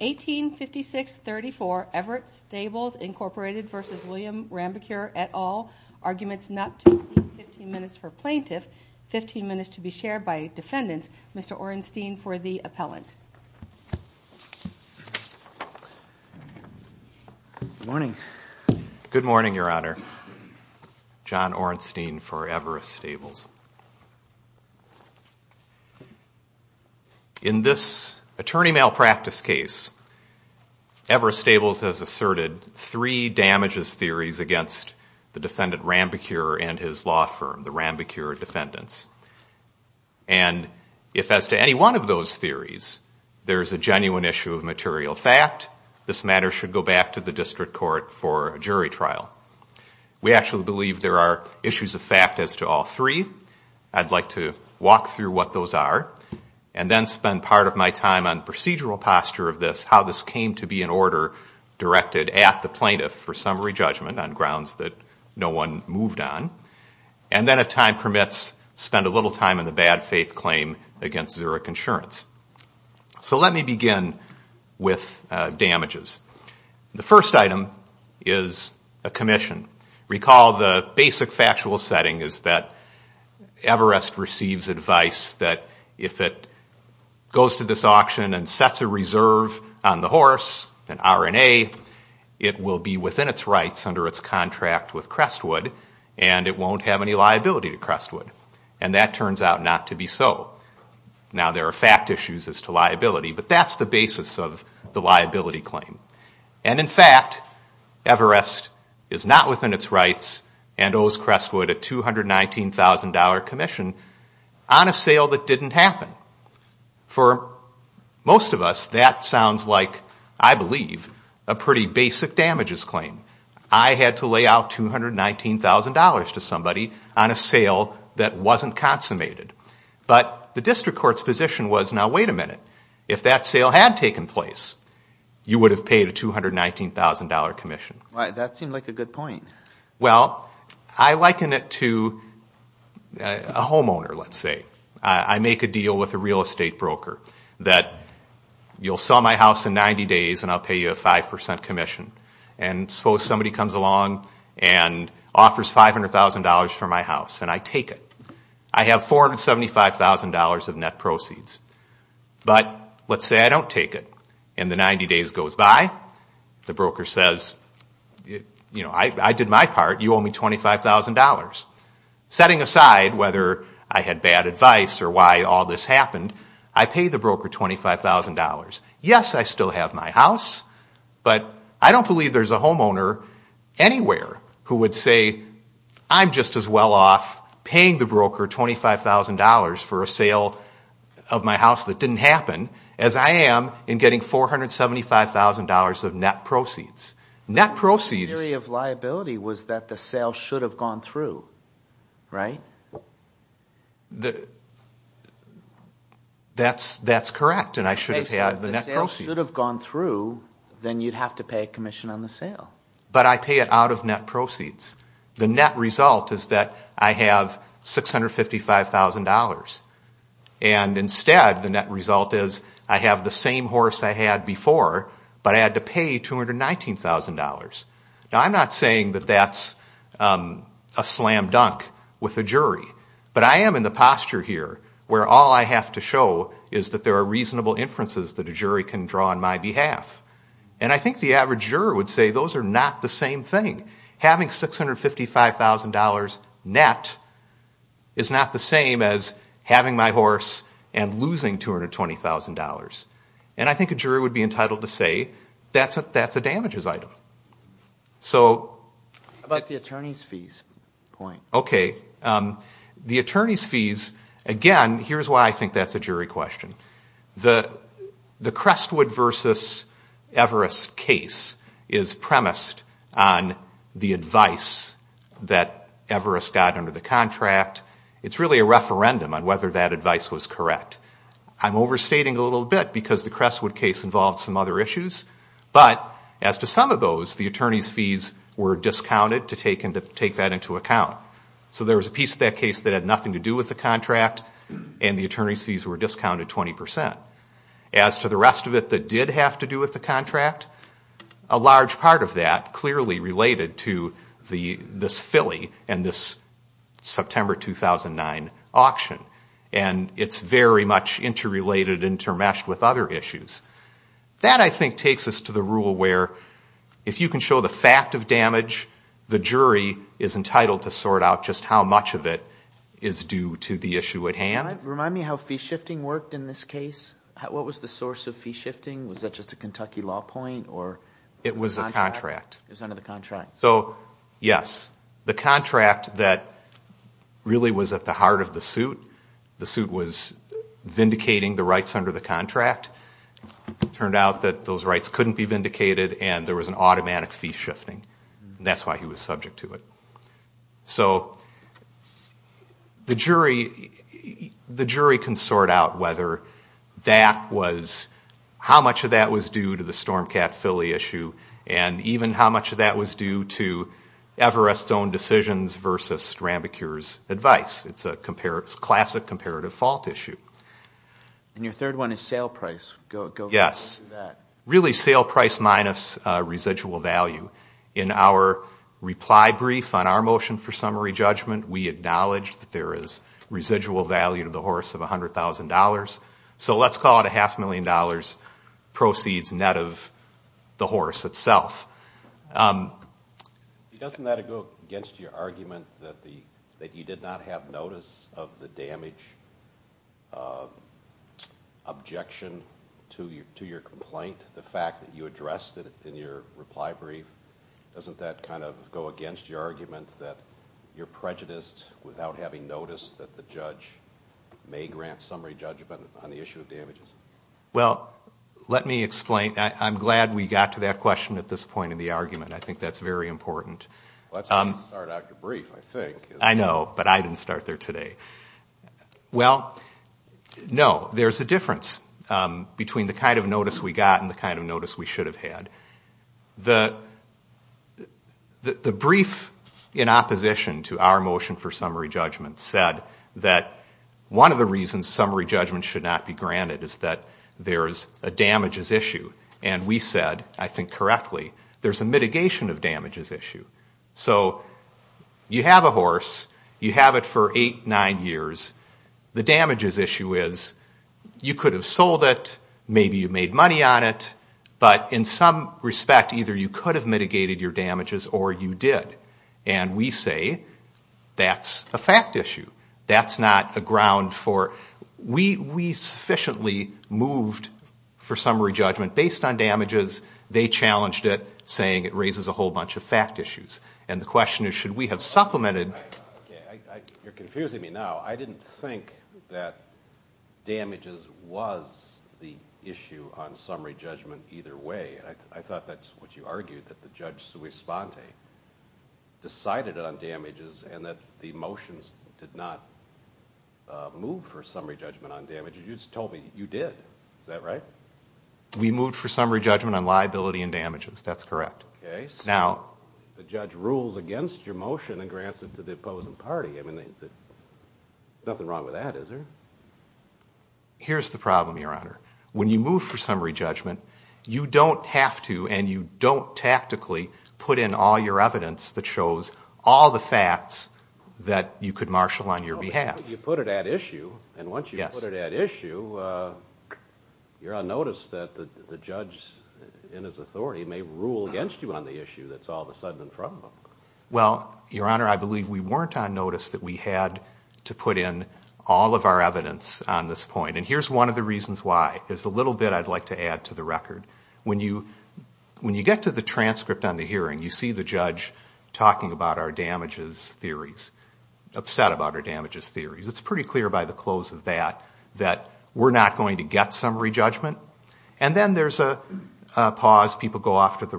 1856-34 Everett Stables, Inc. v. William Rambicure, et al. Arguments not to receive 15 minutes for plaintiff, 15 minutes to be shared by defendants. Mr. Orenstein for the appellant. Good morning. Good morning, Your Honor. John Orenstein for Everett Stables. In this attorney malpractice case, Everett Stables has asserted three damages theories against the defendant Rambicure and his law firm, the Rambicure defendants. And if as to any one of those theories, there is a genuine issue of material fact, this matter should go back to the district court for a jury trial. We actually believe there are issues of fact as to all three. I'd like to walk through what those are and then spend part of my time on procedural posture of this, how this came to be an order directed at the plaintiff for summary judgment on grounds that no one moved on. And then if time permits, spend a little time on the bad faith claim against Zurich Insurance. So let me begin with damages. The first item is a commission. Recall the basic factual setting is that Everest receives advice that if it goes to this auction and sets a reserve on the horse, an R&A, it will be within its rights under its contract with Crestwood and it won't have any liability to Crestwood. And that turns out not to be so. Now, there are fact issues as to liability, but that's the basis of the liability claim. And in fact, Everest is not within its rights and owes Crestwood a $219,000 commission on a sale that didn't happen. For most of us, that sounds like, I believe, a pretty basic damages claim. I had to lay out $219,000 to somebody on a sale that wasn't consummated. But the district court's position was, now wait a minute. If that sale had taken place, you would have paid a $219,000 commission. Why, that seemed like a good point. Well, I liken it to a homeowner, let's say. I make a deal with a real estate broker that you'll sell my house in 90 days and I'll pay you a 5% commission. And suppose somebody comes along and offers $500,000 for my house and I take it. I have $475,000 of net proceeds. But let's say I don't take it and the 90 days goes by. The broker says, you know, I did my part. You owe me $25,000. Setting aside whether I had bad advice or why all this happened, I pay the broker $25,000. Yes, I still have my house, but I don't believe there's a homeowner anywhere who would say, I'm just as well off paying the broker $25,000 for a sale of my house that didn't happen as I am in getting $475,000 of net proceeds. The theory of liability was that the sale should have gone through, right? That's correct, and I should have had the net proceeds. If the sale should have gone through, then you'd have to pay a commission on the sale. But I pay it out of net proceeds. The net result is that I have $655,000. And instead, the net result is I have the same horse I had before, but I had to pay $219,000. Now, I'm not saying that that's a slam dunk with a jury. But I am in the posture here where all I have to show is that there are reasonable inferences that a jury can draw on my behalf. And I think the average juror would say those are not the same thing. Having $655,000 net is not the same as having my horse and losing $220,000. And I think a jury would be entitled to say that's a damages item. How about the attorney's fees point? Okay. The attorney's fees, again, here's why I think that's a jury question. The Crestwood v. Everest case is premised on the advice that Everest got under the contract. It's really a referendum on whether that advice was correct. I'm overstating a little bit because the Crestwood case involved some other issues. But as to some of those, the attorney's fees were discounted to take that into account. So there was a piece of that case that had nothing to do with the contract, and the attorney's fees were discounted 20%. As to the rest of it that did have to do with the contract, a large part of that clearly related to this Philly and this September 2009 auction. And it's very much interrelated, intermeshed with other issues. That, I think, takes us to the rule where if you can show the fact of damage, the jury is entitled to sort out just how much of it is due to the issue at hand. Remind me how fee shifting worked in this case. What was the source of fee shifting? Was that just a Kentucky law point or a contract? It was a contract. It was under the contract. So, yes, the contract that really was at the heart of the suit, the suit was vindicating the rights under the contract. It turned out that those rights couldn't be vindicated, and there was an automatic fee shifting. That's why he was subject to it. So the jury can sort out whether that was, how much of that was due to the Stormcat Philly issue, and even how much of that was due to Everest's own decisions versus Rambicure's advice. It's a classic comparative fault issue. And your third one is sale price. Yes. Really sale price minus residual value. In our reply brief on our motion for summary judgment, we acknowledged that there is residual value to the horse of $100,000. So let's call it a half million dollars proceeds net of the horse itself. Doesn't that go against your argument that you did not have notice of the damage objection to your complaint, the fact that you addressed it in your reply brief? Doesn't that kind of go against your argument that you're prejudiced without having noticed that the judge may grant summary judgment on the issue of damages? Well, let me explain. I'm glad we got to that question at this point in the argument. I think that's very important. Well, that's how you start out your brief, I think. I know, but I didn't start there today. Well, no, there's a difference between the kind of notice we got and the kind of notice we should have had. The brief in opposition to our motion for summary judgment said that one of the reasons summary judgment should not be granted is that there's a damages issue. And we said, I think correctly, there's a mitigation of damages issue. So you have a horse. You have it for eight, nine years. The damages issue is you could have sold it. Maybe you made money on it. But in some respect, either you could have mitigated your damages or you did. And we say that's a fact issue. That's not a ground for we sufficiently moved for summary judgment based on damages. They challenged it, saying it raises a whole bunch of fact issues. And the question is, should we have supplemented? You're confusing me now. I didn't think that damages was the issue on summary judgment either way. I thought that's what you argued, that the judge, Sui Sponte, decided on damages and that the motions did not move for summary judgment on damages. You just told me you did. Is that right? We moved for summary judgment on liability and damages. That's correct. So the judge rules against your motion and grants it to the opposing party. There's nothing wrong with that, is there? Here's the problem, Your Honor. When you move for summary judgment, you don't have to and you don't tactically put in all your evidence that shows all the facts that you could marshal on your behalf. You put it at issue, and once you put it at issue, you're on notice that the judge in his authority may rule against you on the issue that's all of a sudden in front of him. Well, Your Honor, I believe we weren't on notice that we had to put in all of our evidence on this point. And here's one of the reasons why. There's a little bit I'd like to add to the record. When you get to the transcript on the hearing, you see the judge talking about our damages theories, upset about our damages theories. It's pretty clear by the close of that that we're not going to get summary judgment. And then there's a pause. People go off the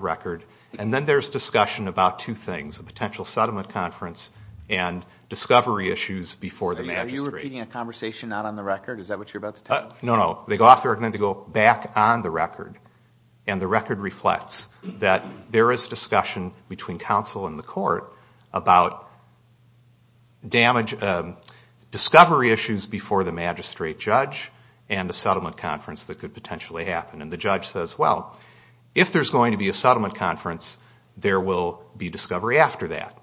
record. And then there's discussion about two things, a potential settlement conference and discovery issues before the magistrate. Are you repeating a conversation not on the record? Is that what you're about to tell us? They go off the record and then they go back on the record. And the record reflects that there is discussion between counsel and the court about discovery issues before the magistrate judge and the settlement conference that could potentially happen. And the judge says, well, if there's going to be a settlement conference, there will be discovery after that.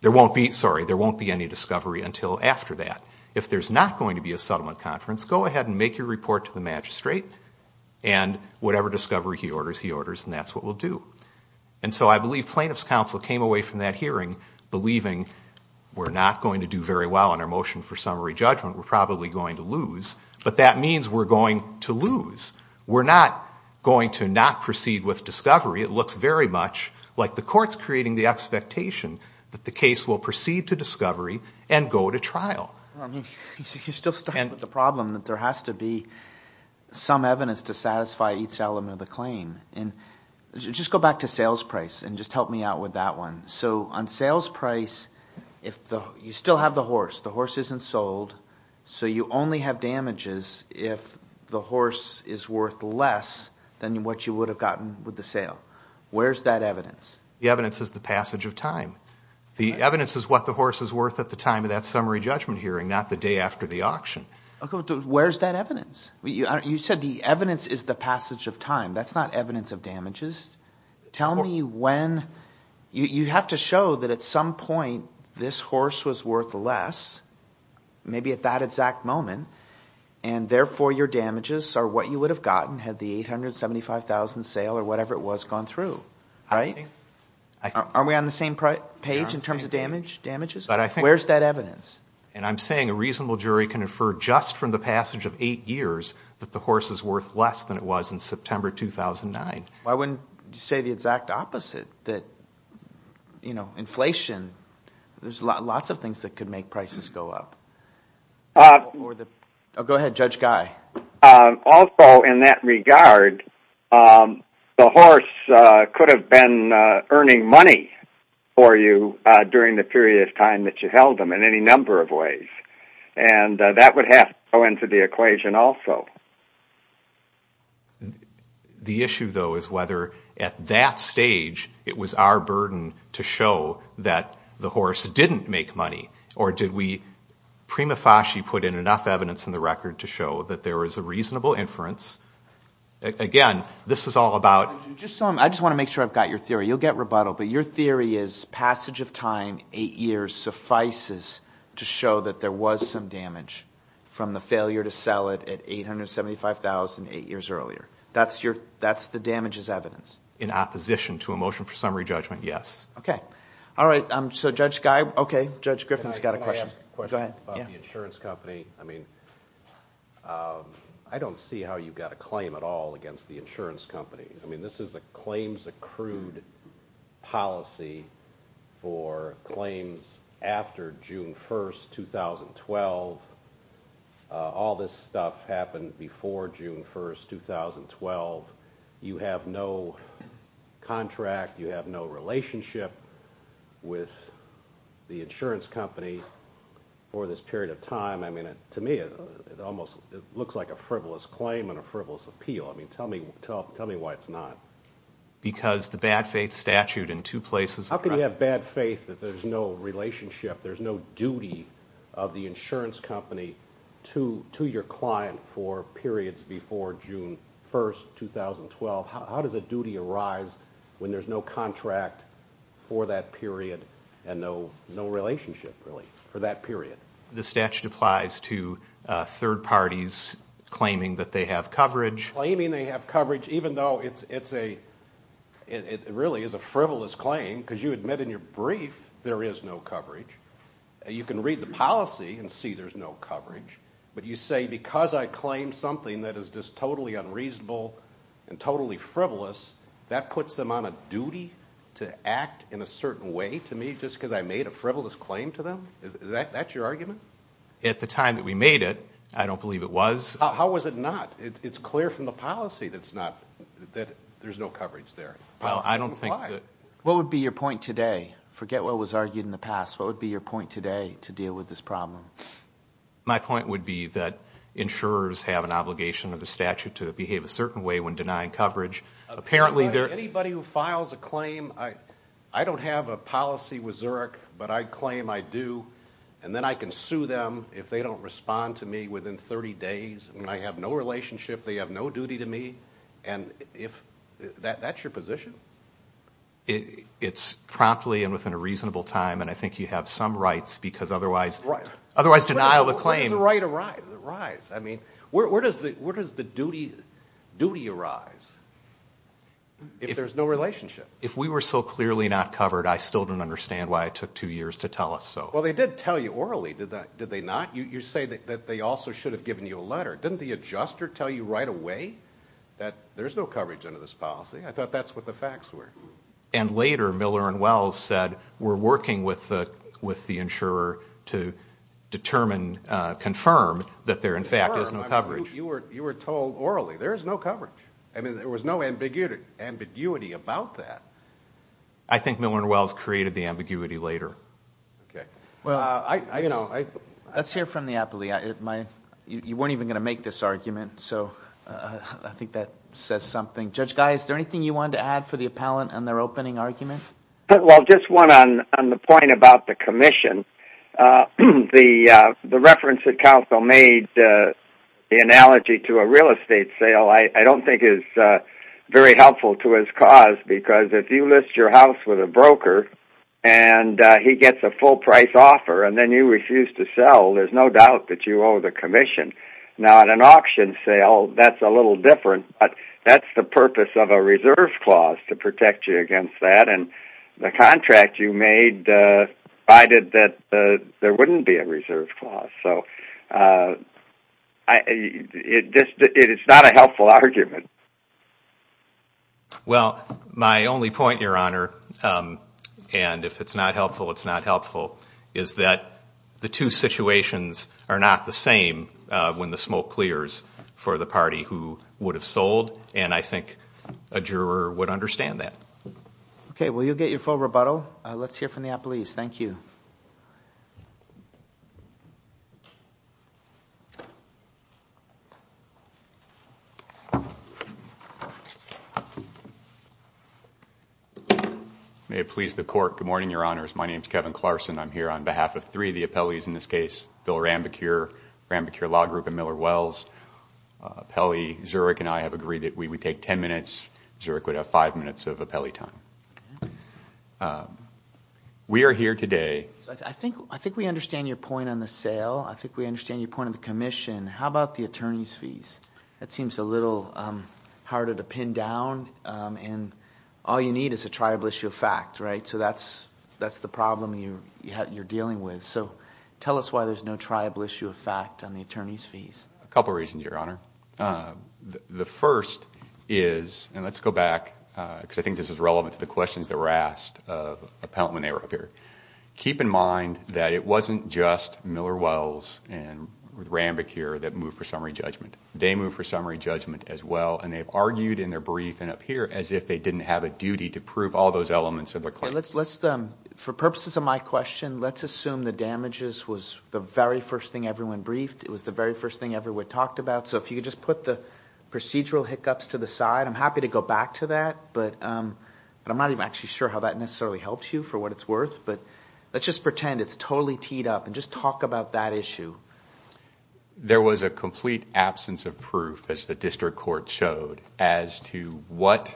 There won't be any discovery until after that. If there's not going to be a settlement conference, go ahead and make your report to the magistrate. And whatever discovery he orders, he orders, and that's what we'll do. And so I believe plaintiff's counsel came away from that hearing believing we're not going to do very well on our motion for summary judgment. We're probably going to lose. But that means we're going to lose. We're not going to not proceed with discovery. It looks very much like the court's creating the expectation that the case will proceed to discovery and go to trial. You're still stuck with the problem that there has to be some evidence to satisfy each element of the claim. Just go back to sales price and just help me out with that one. So on sales price, you still have the horse. The horse isn't sold, so you only have damages if the horse is worth less than what you would have gotten with the sale. Where is that evidence? The evidence is the passage of time. The evidence is what the horse is worth at the time of that summary judgment hearing, not the day after the auction. Where is that evidence? You said the evidence is the passage of time. That's not evidence of damages. Tell me when. You have to show that at some point this horse was worth less, maybe at that exact moment, and therefore your damages are what you would have gotten had the $875,000 sale or whatever it was gone through. Are we on the same page in terms of damages? Where is that evidence? I'm saying a reasonable jury can infer just from the passage of eight years that the horse is worth less than it was in September 2009. I wouldn't say the exact opposite. Inflation, there's lots of things that could make prices go up. Go ahead, Judge Guy. Also in that regard, the horse could have been earning money for you during the period of time that you held him in any number of ways, and that would have to go into the equation also. The issue, though, is whether at that stage it was our burden to show that the horse didn't make money, or did we, prima facie, put in enough evidence in the record to show that there was a reasonable inference? Again, this is all about... I just want to make sure I've got your theory. You'll get rebuttal, but your theory is passage of time, eight years, suffices to show that there was some damage from the failure to sell it at $875,000 eight years earlier. That's the damages evidence? In opposition to a motion for summary judgment, yes. Okay, Judge Griffin's got a question. I have a question about the insurance company. I don't see how you've got a claim at all against the insurance company. This is a claims-accrued policy for claims after June 1, 2012. All this stuff happened before June 1, 2012. You have no contract, you have no relationship with the insurance company. For this period of time, to me, it looks like a frivolous claim and a frivolous appeal. Tell me why it's not. Because the bad faith statute in two places... How can you have bad faith that there's no relationship, there's no duty of the insurance company to your client for periods before June 1, 2012? How does a duty arise when there's no contract for that period and no relationship, really, for that period? The statute applies to third parties claiming that they have coverage. Claiming they have coverage, even though it really is a frivolous claim, because you admit in your brief there is no coverage. You can read the policy and see there's no coverage. But you say, because I claim something that is just totally unreasonable and totally frivolous, that puts them on a duty to act in a certain way to me just because I made a frivolous claim to them? Is that your argument? At the time that we made it, I don't believe it was. How was it not? It's clear from the policy that there's no coverage there. I don't think that... What would be your point today? Forget what was argued in the past. What would be your point today to deal with this problem? My point would be that insurers have an obligation under the statute to behave a certain way when denying coverage. Anybody who files a claim, I don't have a policy with Zurich, but I claim I do, and then I can sue them if they don't respond to me within 30 days. I have no relationship, they have no duty to me. And that's your position? It's promptly and within a reasonable time, and I think you have some rights, because otherwise denial of a claim... Where does the right arise? Where does the duty arise if there's no relationship? If we were so clearly not covered, I still don't understand why it took two years to tell us so. Well, they did tell you orally, did they not? You say that they also should have given you a letter. Didn't the adjuster tell you right away that there's no coverage under this policy? I thought that's what the facts were. And later, Miller and Wells said, we're working with the insurer to determine, confirm that there, in fact, is no coverage. You were told orally, there is no coverage. I mean, there was no ambiguity about that. I think Miller and Wells created the ambiguity later. Let's hear from the appellee. You weren't even going to make this argument, so I think that says something. Judge Guy, is there anything you wanted to add for the appellant and their opening argument? Well, just one on the point about the commission. The reference that counsel made, the analogy to a real estate sale, I don't think is very helpful to his cause because if you list your house with a broker and he gets a full-price offer and then you refuse to sell, there's no doubt that you owe the commission. Now, at an auction sale, that's a little different, but that's the purpose of a reserve clause, to protect you against that. And the contract you made provided that there wouldn't be a reserve clause. It's not a helpful argument. Well, my only point, Your Honor, and if it's not helpful, it's not helpful, is that the two situations are not the same when the smoke clears for the party who would have sold, and I think a juror would understand that. Okay, well, you'll get your full rebuttal. Let's hear from the appellees. Thank you. May it please the Court. Good morning, Your Honors. My name is Kevin Clarson. I'm here on behalf of three of the appellees in this case, Bill Rambecure, Rambecure Law Group, and Miller Wells. Appellee Zurich and I have agreed that we would take 10 minutes. Zurich would have five minutes of appellee time. We are here today... I think we understand your point on the sale. I think we understand your point on the commission. How about the attorney's fees? That seems a little harder to pin down, and all you need is a tribal issue of fact, right? So that's the problem you're dealing with. So tell us why there's no tribal issue of fact on the attorney's fees. A couple reasons, Your Honor. The first is, and let's go back, because I think this is relevant to the questions that were asked of the appellant when they were up here. Keep in mind that it wasn't just Miller Wells and Rambecure that moved for summary judgment. They moved for summary judgment as well, and they've argued in their brief and up here as if they didn't have a duty to prove all those elements of the claim. For purposes of my question, let's assume the damages was the very first thing everyone briefed, it was the very first thing everyone talked about. So if you could just put the procedural hiccups to the side, I'm happy to go back to that, but I'm not even actually sure how that necessarily helps you for what it's worth, but let's just pretend it's totally teed up and just talk about that issue. There was a complete absence of proof, as the district court showed, as to what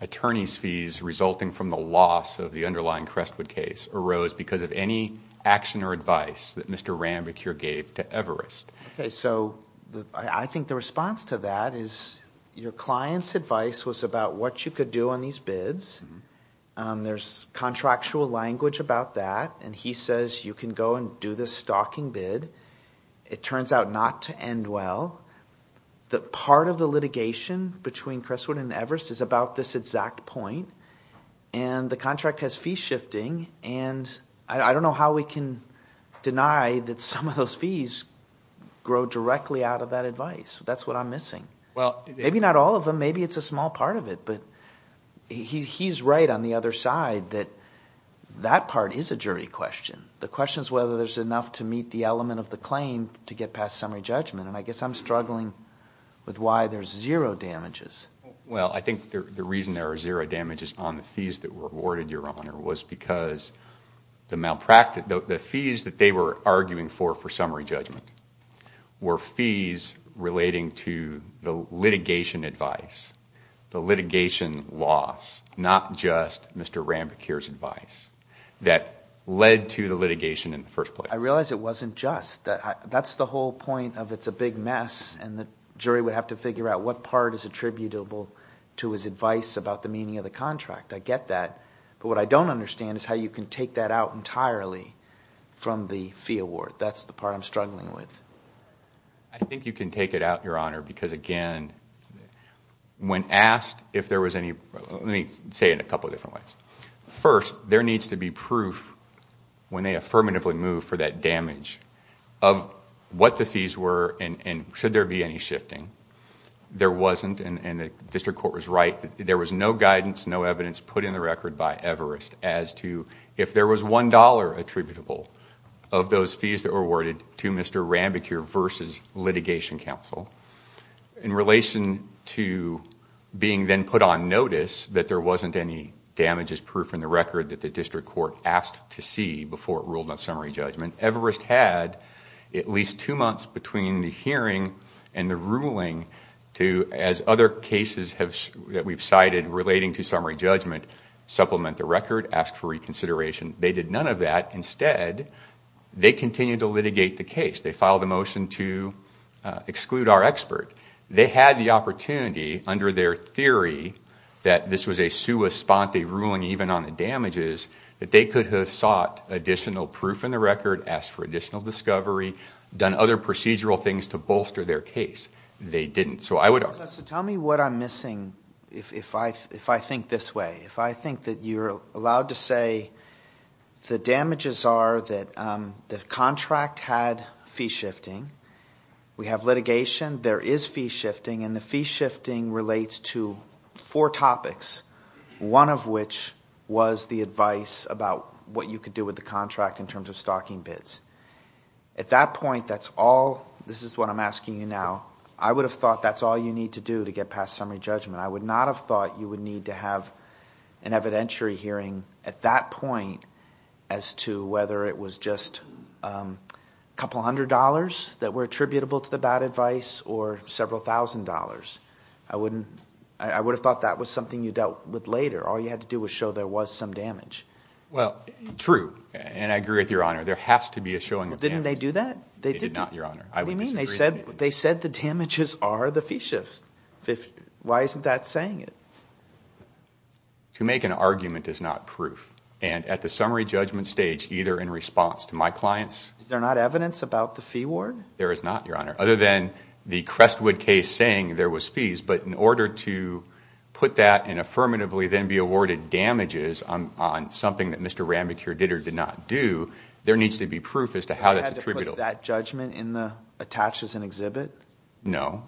attorney's fees resulting from the loss of the underlying Crestwood case arose because of any action or advice that Mr. Rambecure gave to Everest. Okay, so I think the response to that is your client's advice was about what you could do on these bids. There's contractual language about that, and he says you can go and do this stocking bid. It turns out not to end well. Part of the litigation between Crestwood and Everest is about this exact point, and the contract has fees shifting, and I don't know how we can deny that some of those fees grow directly out of that advice. That's what I'm missing. Maybe not all of them. Maybe it's a small part of it, but he's right on the other side that that part is a jury question. The question is whether there's enough to meet the element of the claim to get past summary judgment, and I guess I'm struggling with why there's zero damages. on the fees that were awarded, Your Honor, was because the malpractice, the fees that they were arguing for for summary judgment were fees relating to the litigation advice, the litigation loss, not just Mr. Ranbocure's advice that led to the litigation in the first place. I realize it wasn't just. That's the whole point of it's a big mess and the jury would have to figure out what part is attributable to his advice about the meaning of the contract. I get that. But what I don't understand is how you can take that out entirely from the fee award. That's the part I'm struggling with. I think you can take it out, Your Honor, because again, when asked if there was any... Let me say it in a couple of different ways. First, there needs to be proof when they affirmatively move for that damage of what the fees were and should there be any shifting. There wasn't, and the district court was right. There was no guidance, no evidence, put in the record by Everest as to if there was $1 attributable of those fees that were awarded to Mr. Ranbocure versus litigation counsel. In relation to being then put on notice that there wasn't any damages proof in the record that the district court asked to see before it ruled on summary judgment, Everest had at least two months between the hearing and the ruling to, as other cases that we've cited relating to summary judgment, supplement the record, ask for reconsideration. They did none of that. Instead, they continued to litigate the case. They filed a motion to exclude our expert. They had the opportunity under their theory that this was a sua sponte ruling, even on the damages, that they could have sought additional proof in the record, asked for additional discovery, done other procedural things to bolster their case. They didn't. So tell me what I'm missing if I think this way. If I think that you're allowed to say the damages are that the contract had fee shifting, we have litigation, there is fee shifting, and the fee shifting relates to four topics, one of which was the advice about what you could do with the contract in terms of stocking bids. At that point, that's all. This is what I'm asking you now. I would have thought that's all you need to do to get past summary judgment. I would not have thought you would need to have an evidentiary hearing at that point as to whether it was just a couple hundred dollars that were attributable to the bad advice or several thousand dollars. I would have thought that was something you dealt with later. All you had to do was show there was some damage. Well, true, and I agree with Your Honor. Didn't they do that? They did not, Your Honor. What do you mean? They said the damages are the fee shifts. Why isn't that saying it? To make an argument is not proof, and at the summary judgment stage, either in response to my clients... Is there not evidence about the fee ward? There is not, Your Honor, other than the Crestwood case saying there was fees, but in order to put that and affirmatively then be awarded damages on something that Mr. Ramachur did or did not do, there needs to be proof as to how that's attributable. Is that judgment attached as an exhibit? No.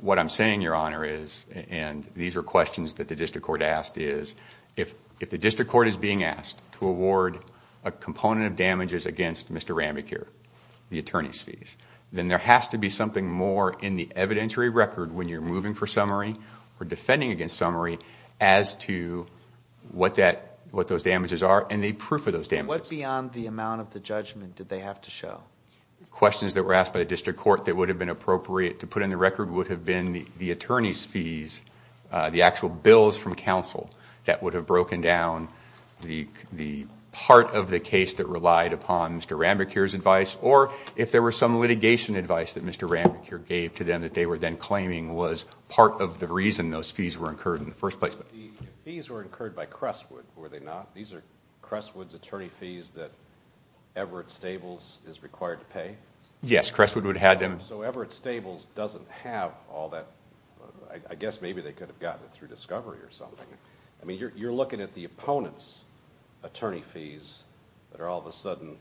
What I'm saying, Your Honor, is, and these are questions that the district court asked, is if the district court is being asked to award a component of damages against Mr. Ramachur, the attorney's fees, then there has to be something more in the evidentiary record when you're moving for summary or defending against summary as to what those damages are and the proof of those damages. What beyond the amount of the judgment did they have to show? Questions that were asked by the district court that would have been appropriate to put in the record would have been the attorney's fees, the actual bills from counsel that would have broken down the part of the case that relied upon Mr. Ramachur's advice or if there were some litigation advice that Mr. Ramachur gave to them that they were then claiming was part of the reason those fees were incurred in the first place. The fees were incurred by Crestwood, were they not? These are Crestwood's attorney fees that Everett Stables is required to pay? Yes, Crestwood would have them. So Everett Stables doesn't have all that... I guess maybe they could have gotten it through discovery or something. I mean, you're looking at the opponent's attorney fees that all of a sudden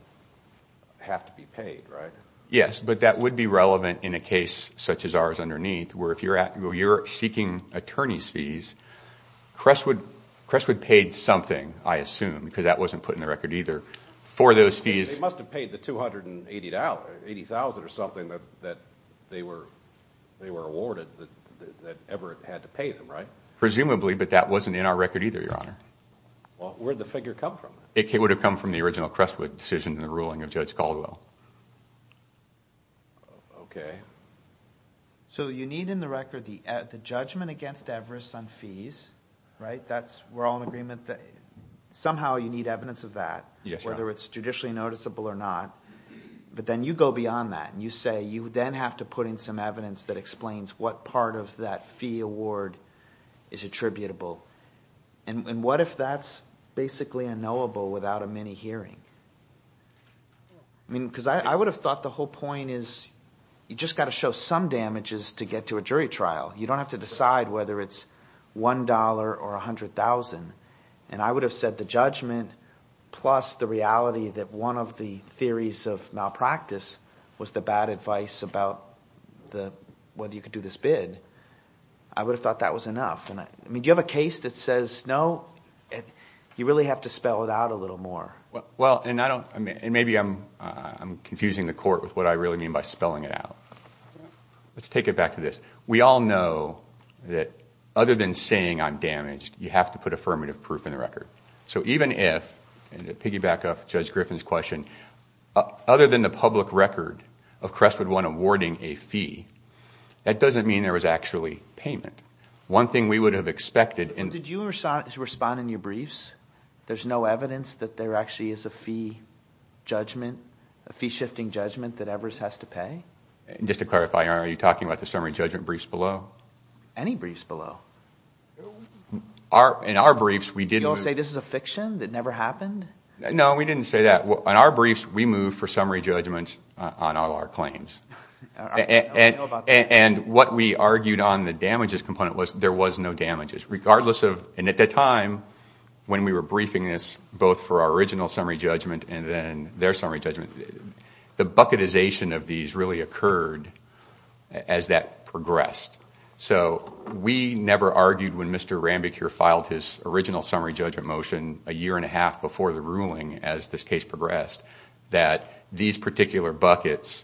have to be paid, right? Yes, but that would be relevant in a case such as ours underneath where if you're seeking attorney's fees, Crestwood paid something, I assume, because that wasn't put in the record either, for those fees. They must have paid the $280,000 or something that they were awarded that Everett had to pay them, right? Presumably, but that wasn't in our record either, Your Honor. Well, where did the figure come from? It would have come from the original Crestwood decision in the ruling of Judge Caldwell. Okay. So you need in the record the judgment against Everest on fees, right? We're all in agreement that somehow you need evidence of that, whether it's judicially noticeable or not. But then you go beyond that and you say you then have to put in some evidence that explains what part of that fee award is attributable. And what if that's basically unknowable without a mini hearing? I mean, because I would have thought the whole point is you've just got to show some damages to get to a jury trial. You don't have to decide whether it's $1 or $100,000. And I would have said the judgment plus the reality that one of the theories of malpractice was the bad advice about whether you could do this bid. I would have thought that was enough. I mean, do you have a case that says no? You really have to spell it out a little more. Well, and maybe I'm confusing the court with what I really mean by spelling it out. Let's take it back to this. We all know that other than saying I'm damaged, you have to put affirmative proof in the record. So even if, and to piggyback off Judge Griffin's question, other than the public record of Crestwood 1 awarding a fee, that doesn't mean there was actually payment. One thing we would have expected... Did you respond in your briefs? There's no evidence that there actually is a fee judgment, a fee-shifting judgment that Evers has to pay? Just to clarify, are you talking about the summary judgment briefs below? Any briefs below. In our briefs, we did... Did you all say this is a fiction that never happened? No, we didn't say that. In our briefs, we moved for summary judgments on all our claims. And what we argued on the damages component was there was no damages, regardless of... And at the time, when we were briefing this, both for our original summary judgment and then their summary judgment, the bucketization of these really occurred as that progressed. So we never argued when Mr. Rambicure filed his original summary judgment motion a year and a half before the ruling, as this case progressed, that these particular buckets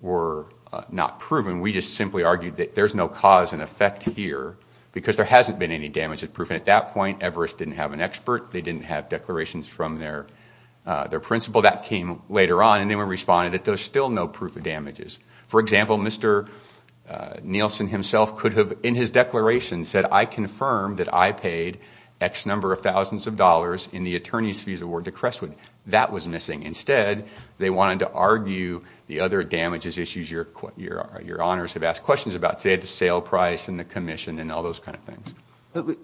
were not proven. We just simply argued that there's no cause and effect here because there hasn't been any damages proven. At that point, Evers didn't have an expert. They didn't have declarations from their principal. That came later on, and then we responded that there's still no proof of damages. For example, Mr. Nielsen himself could have, in his declaration, said, I confirm that I paid X number of thousands of dollars in the attorney's fees award to Crestwood. That was missing. Instead, they wanted to argue the other damages issues your honours have asked questions about, say, the sale price and the commission and all those kind of things.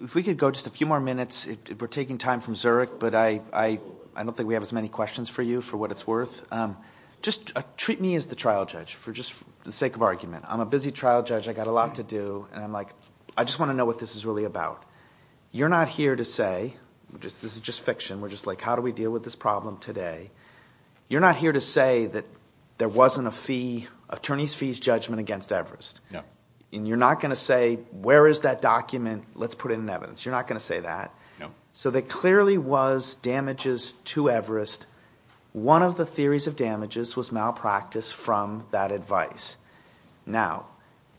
If we could go just a few more minutes. We're taking time from Zurich, but I don't think we have as many questions for you for what it's worth. Just treat me as the trial judge, for the sake of argument. I'm a busy trial judge. I've got a lot to do. I just want to know what this is really about. You're not here to say, this is just fiction, we're just like, how do we deal with this problem today? You're not here to say that there wasn't a fee, attorney's fees judgment against Evers. You're not going to say, where is that document? Let's put it in evidence. You're not going to say that. So there clearly was damages to Evers. One of the theories of damages was malpractice from that advice. Now,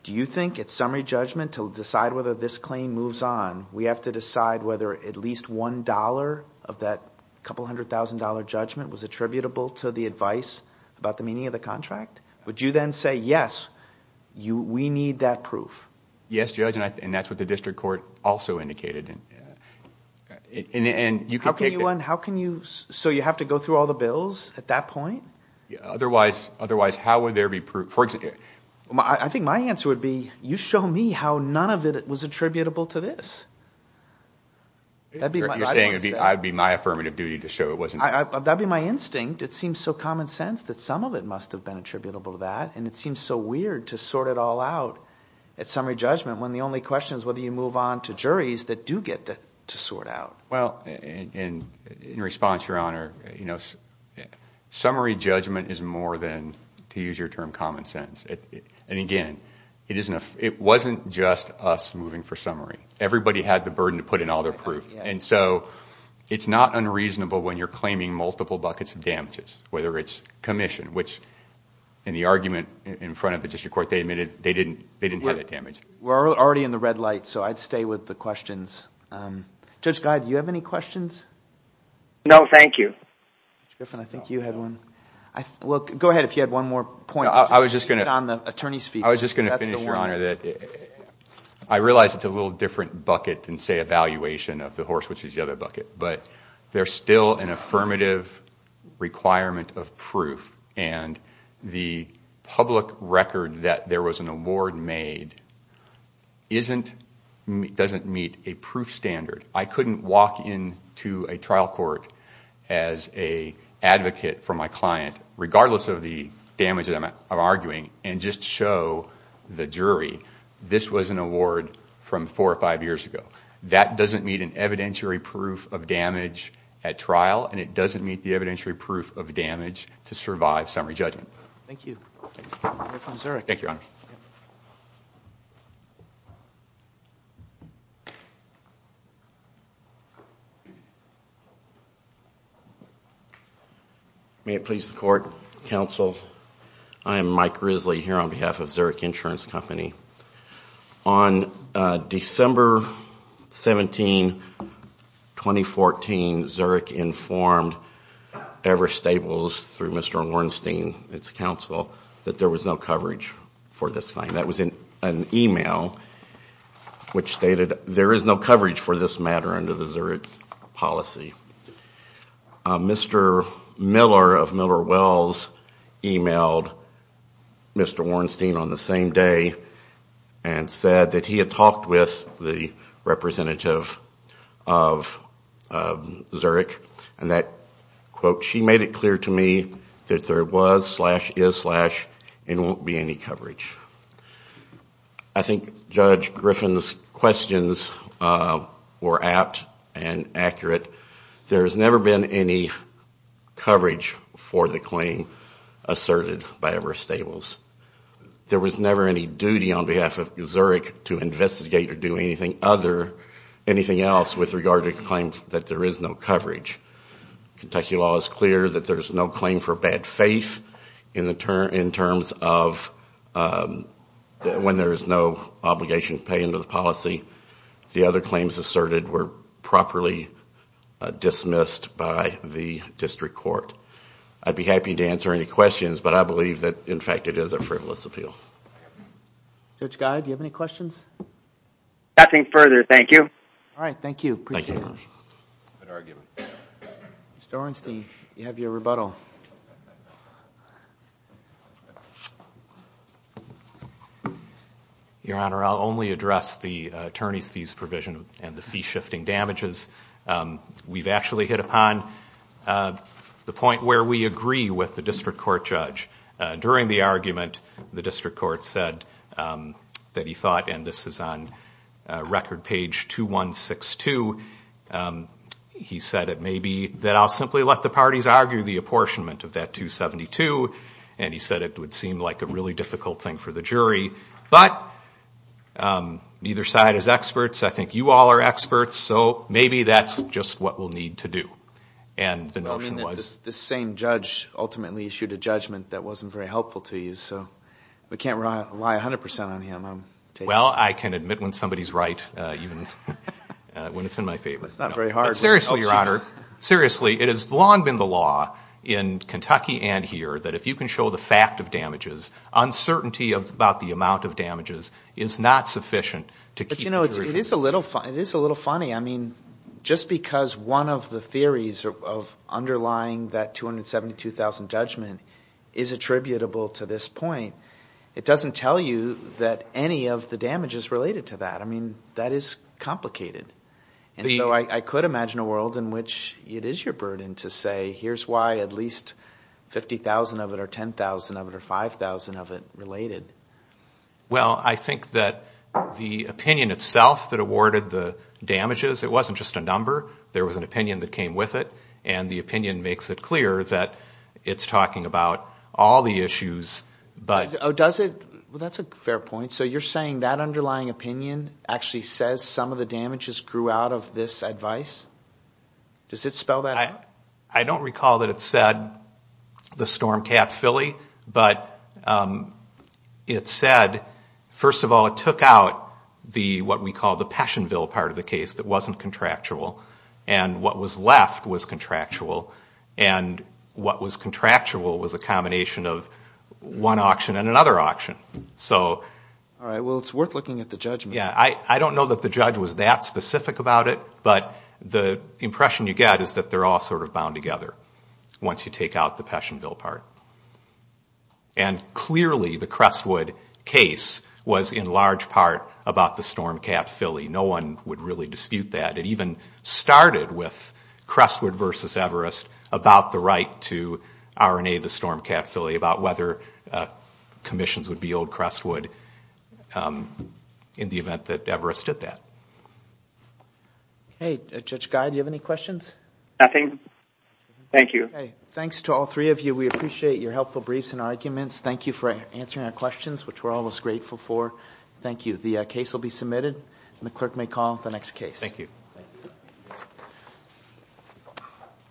do you think at summary judgment, to decide whether this claim moves on, we have to decide whether at least one dollar of that couple hundred thousand dollar judgment was attributable to the advice about the meaning of the contract? Would you then say, yes, we need that proof? Yes, judge, and that's what the district court also indicated. How can you... so you have to go through all the bills at that point? Otherwise, how would there be proof? I think my answer would be, you show me how none of it was attributable to this. You're saying it would be my affirmative duty to show it wasn't. That would be my instinct. It seems so common sense that some of it must have been attributable to that, and it seems so weird to sort it all out at summary judgment when the only question is whether you move on to juries that do get to sort out. In response, Your Honor, summary judgment is more than, to use your term, common sense. Again, it wasn't just us moving for summary. Everybody had the burden to put in all their proof. whether it's commission, which in the argument in front of the district court, they admitted they didn't have that damage. We're already in the red light, so I'd stay with the questions. Judge Geid, do you have any questions? No, thank you. Judge Griffin, I think you had one. Go ahead if you had one more point. I was just going to finish, Your Honor. I realize it's a little different bucket than, say, evaluation of the horse, which is the other bucket, but there's still an affirmative requirement of proof, and the public record that there was an award made doesn't meet a proof standard. I couldn't walk into a trial court as an advocate for my client, regardless of the damage that I'm arguing, and just show the jury this was an award from four or five years ago. That doesn't meet an evidentiary proof of damage at trial, and it doesn't meet the evidentiary proof of damage to survive summary judgment. Thank you. Thank you, Your Honor. May it please the court, counsel. I am Mike Risley here on behalf of Zurich Insurance Company. On December 17, 2014, Zurich informed Evers Staples through Mr. Wernstein, its counsel, that there was no coverage for this claim. That was in an email which stated there is no coverage for this matter under the Zurich policy. Mr. Miller of Miller Wells emailed Mr. Wernstein on the same day and said that he had talked with the representative of Zurich, and that, quote, she made it clear to me that there was slash is slash and won't be any coverage. I think Judge Griffin's questions were apt and accurate. There has never been any coverage for the claim asserted by Evers Staples. There was never any duty on behalf of Zurich to investigate or do anything else with regard to a claim that there is no coverage. Kentucky law is clear that there is no claim for bad faith in terms of when there is no obligation to pay into the policy. The other claims asserted were properly dismissed by the district court. I'd be happy to answer any questions, but I believe that, in fact, it is a frivolous appeal. Judge Guy, do you have any questions? Nothing further. Thank you. All right. Thank you. Appreciate it. Mr. Wernstein, you have your rebuttal. Your Honor, I'll only address the attorney's fees provision and the fee-shifting damages we've actually hit upon. The point where we agree with the district court judge. During the argument, the district court said that he thought, and this is on record page 2162, he said it may be that I'll simply let the parties argue the apportionment of that 272, and he said it would seem like a really difficult thing for the jury. But neither side is experts. I think you all are experts, so maybe that's just what we'll need to do. The same judge ultimately issued a judgment that wasn't very helpful to you, so we can't rely 100% on him. Well, I can admit when somebody's right, even when it's in my favor. It's not very hard. Seriously, Your Honor, seriously, it has long been the law in Kentucky and here that if you can show the fact of damages, uncertainty about the amount of damages is not sufficient. But, you know, it is a little funny. I mean, just because one of the theories of underlying that 272,000 judgment is attributable to this point, it doesn't tell you that any of the damage is related to that. I mean, that is complicated. And so I could imagine a world in which it is your burden to say, here's why at least 50,000 of it or 10,000 of it or 5,000 of it related. Well, I think that the opinion itself that awarded the damages, it wasn't just a number. There was an opinion that came with it, and the opinion makes it clear that it's talking about all the issues. Oh, does it? Well, that's a fair point. So you're saying that underlying opinion actually says some of the damages grew out of this advice? Does it spell that out? I don't recall that it said the Storm Cat Philly, but it said, first of all, it took out what we call the Passionville part of the case that wasn't contractual, and what was left was contractual, and what was contractual was a combination of one auction and another auction. All right. Well, it's worth looking at the judgment. Yeah. I don't know that the judge was that specific about it, but the impression you get is that they're all sort of bound together once you take out the Passionville part. And clearly the Crestwood case was in large part about the Storm Cat Philly. No one would really dispute that. It even started with Crestwood v. Everest about the right to R&A the Storm Cat Philly, about whether commissions would be old Crestwood in the event that Everest did that. Okay. Judge Guy, do you have any questions? Nothing. Thank you. Okay. Thanks to all three of you. We appreciate your helpful briefs and arguments. Thank you for answering our questions, which we're always grateful for. Thank you. The case will be submitted, and the clerk may call the next case. Thank you.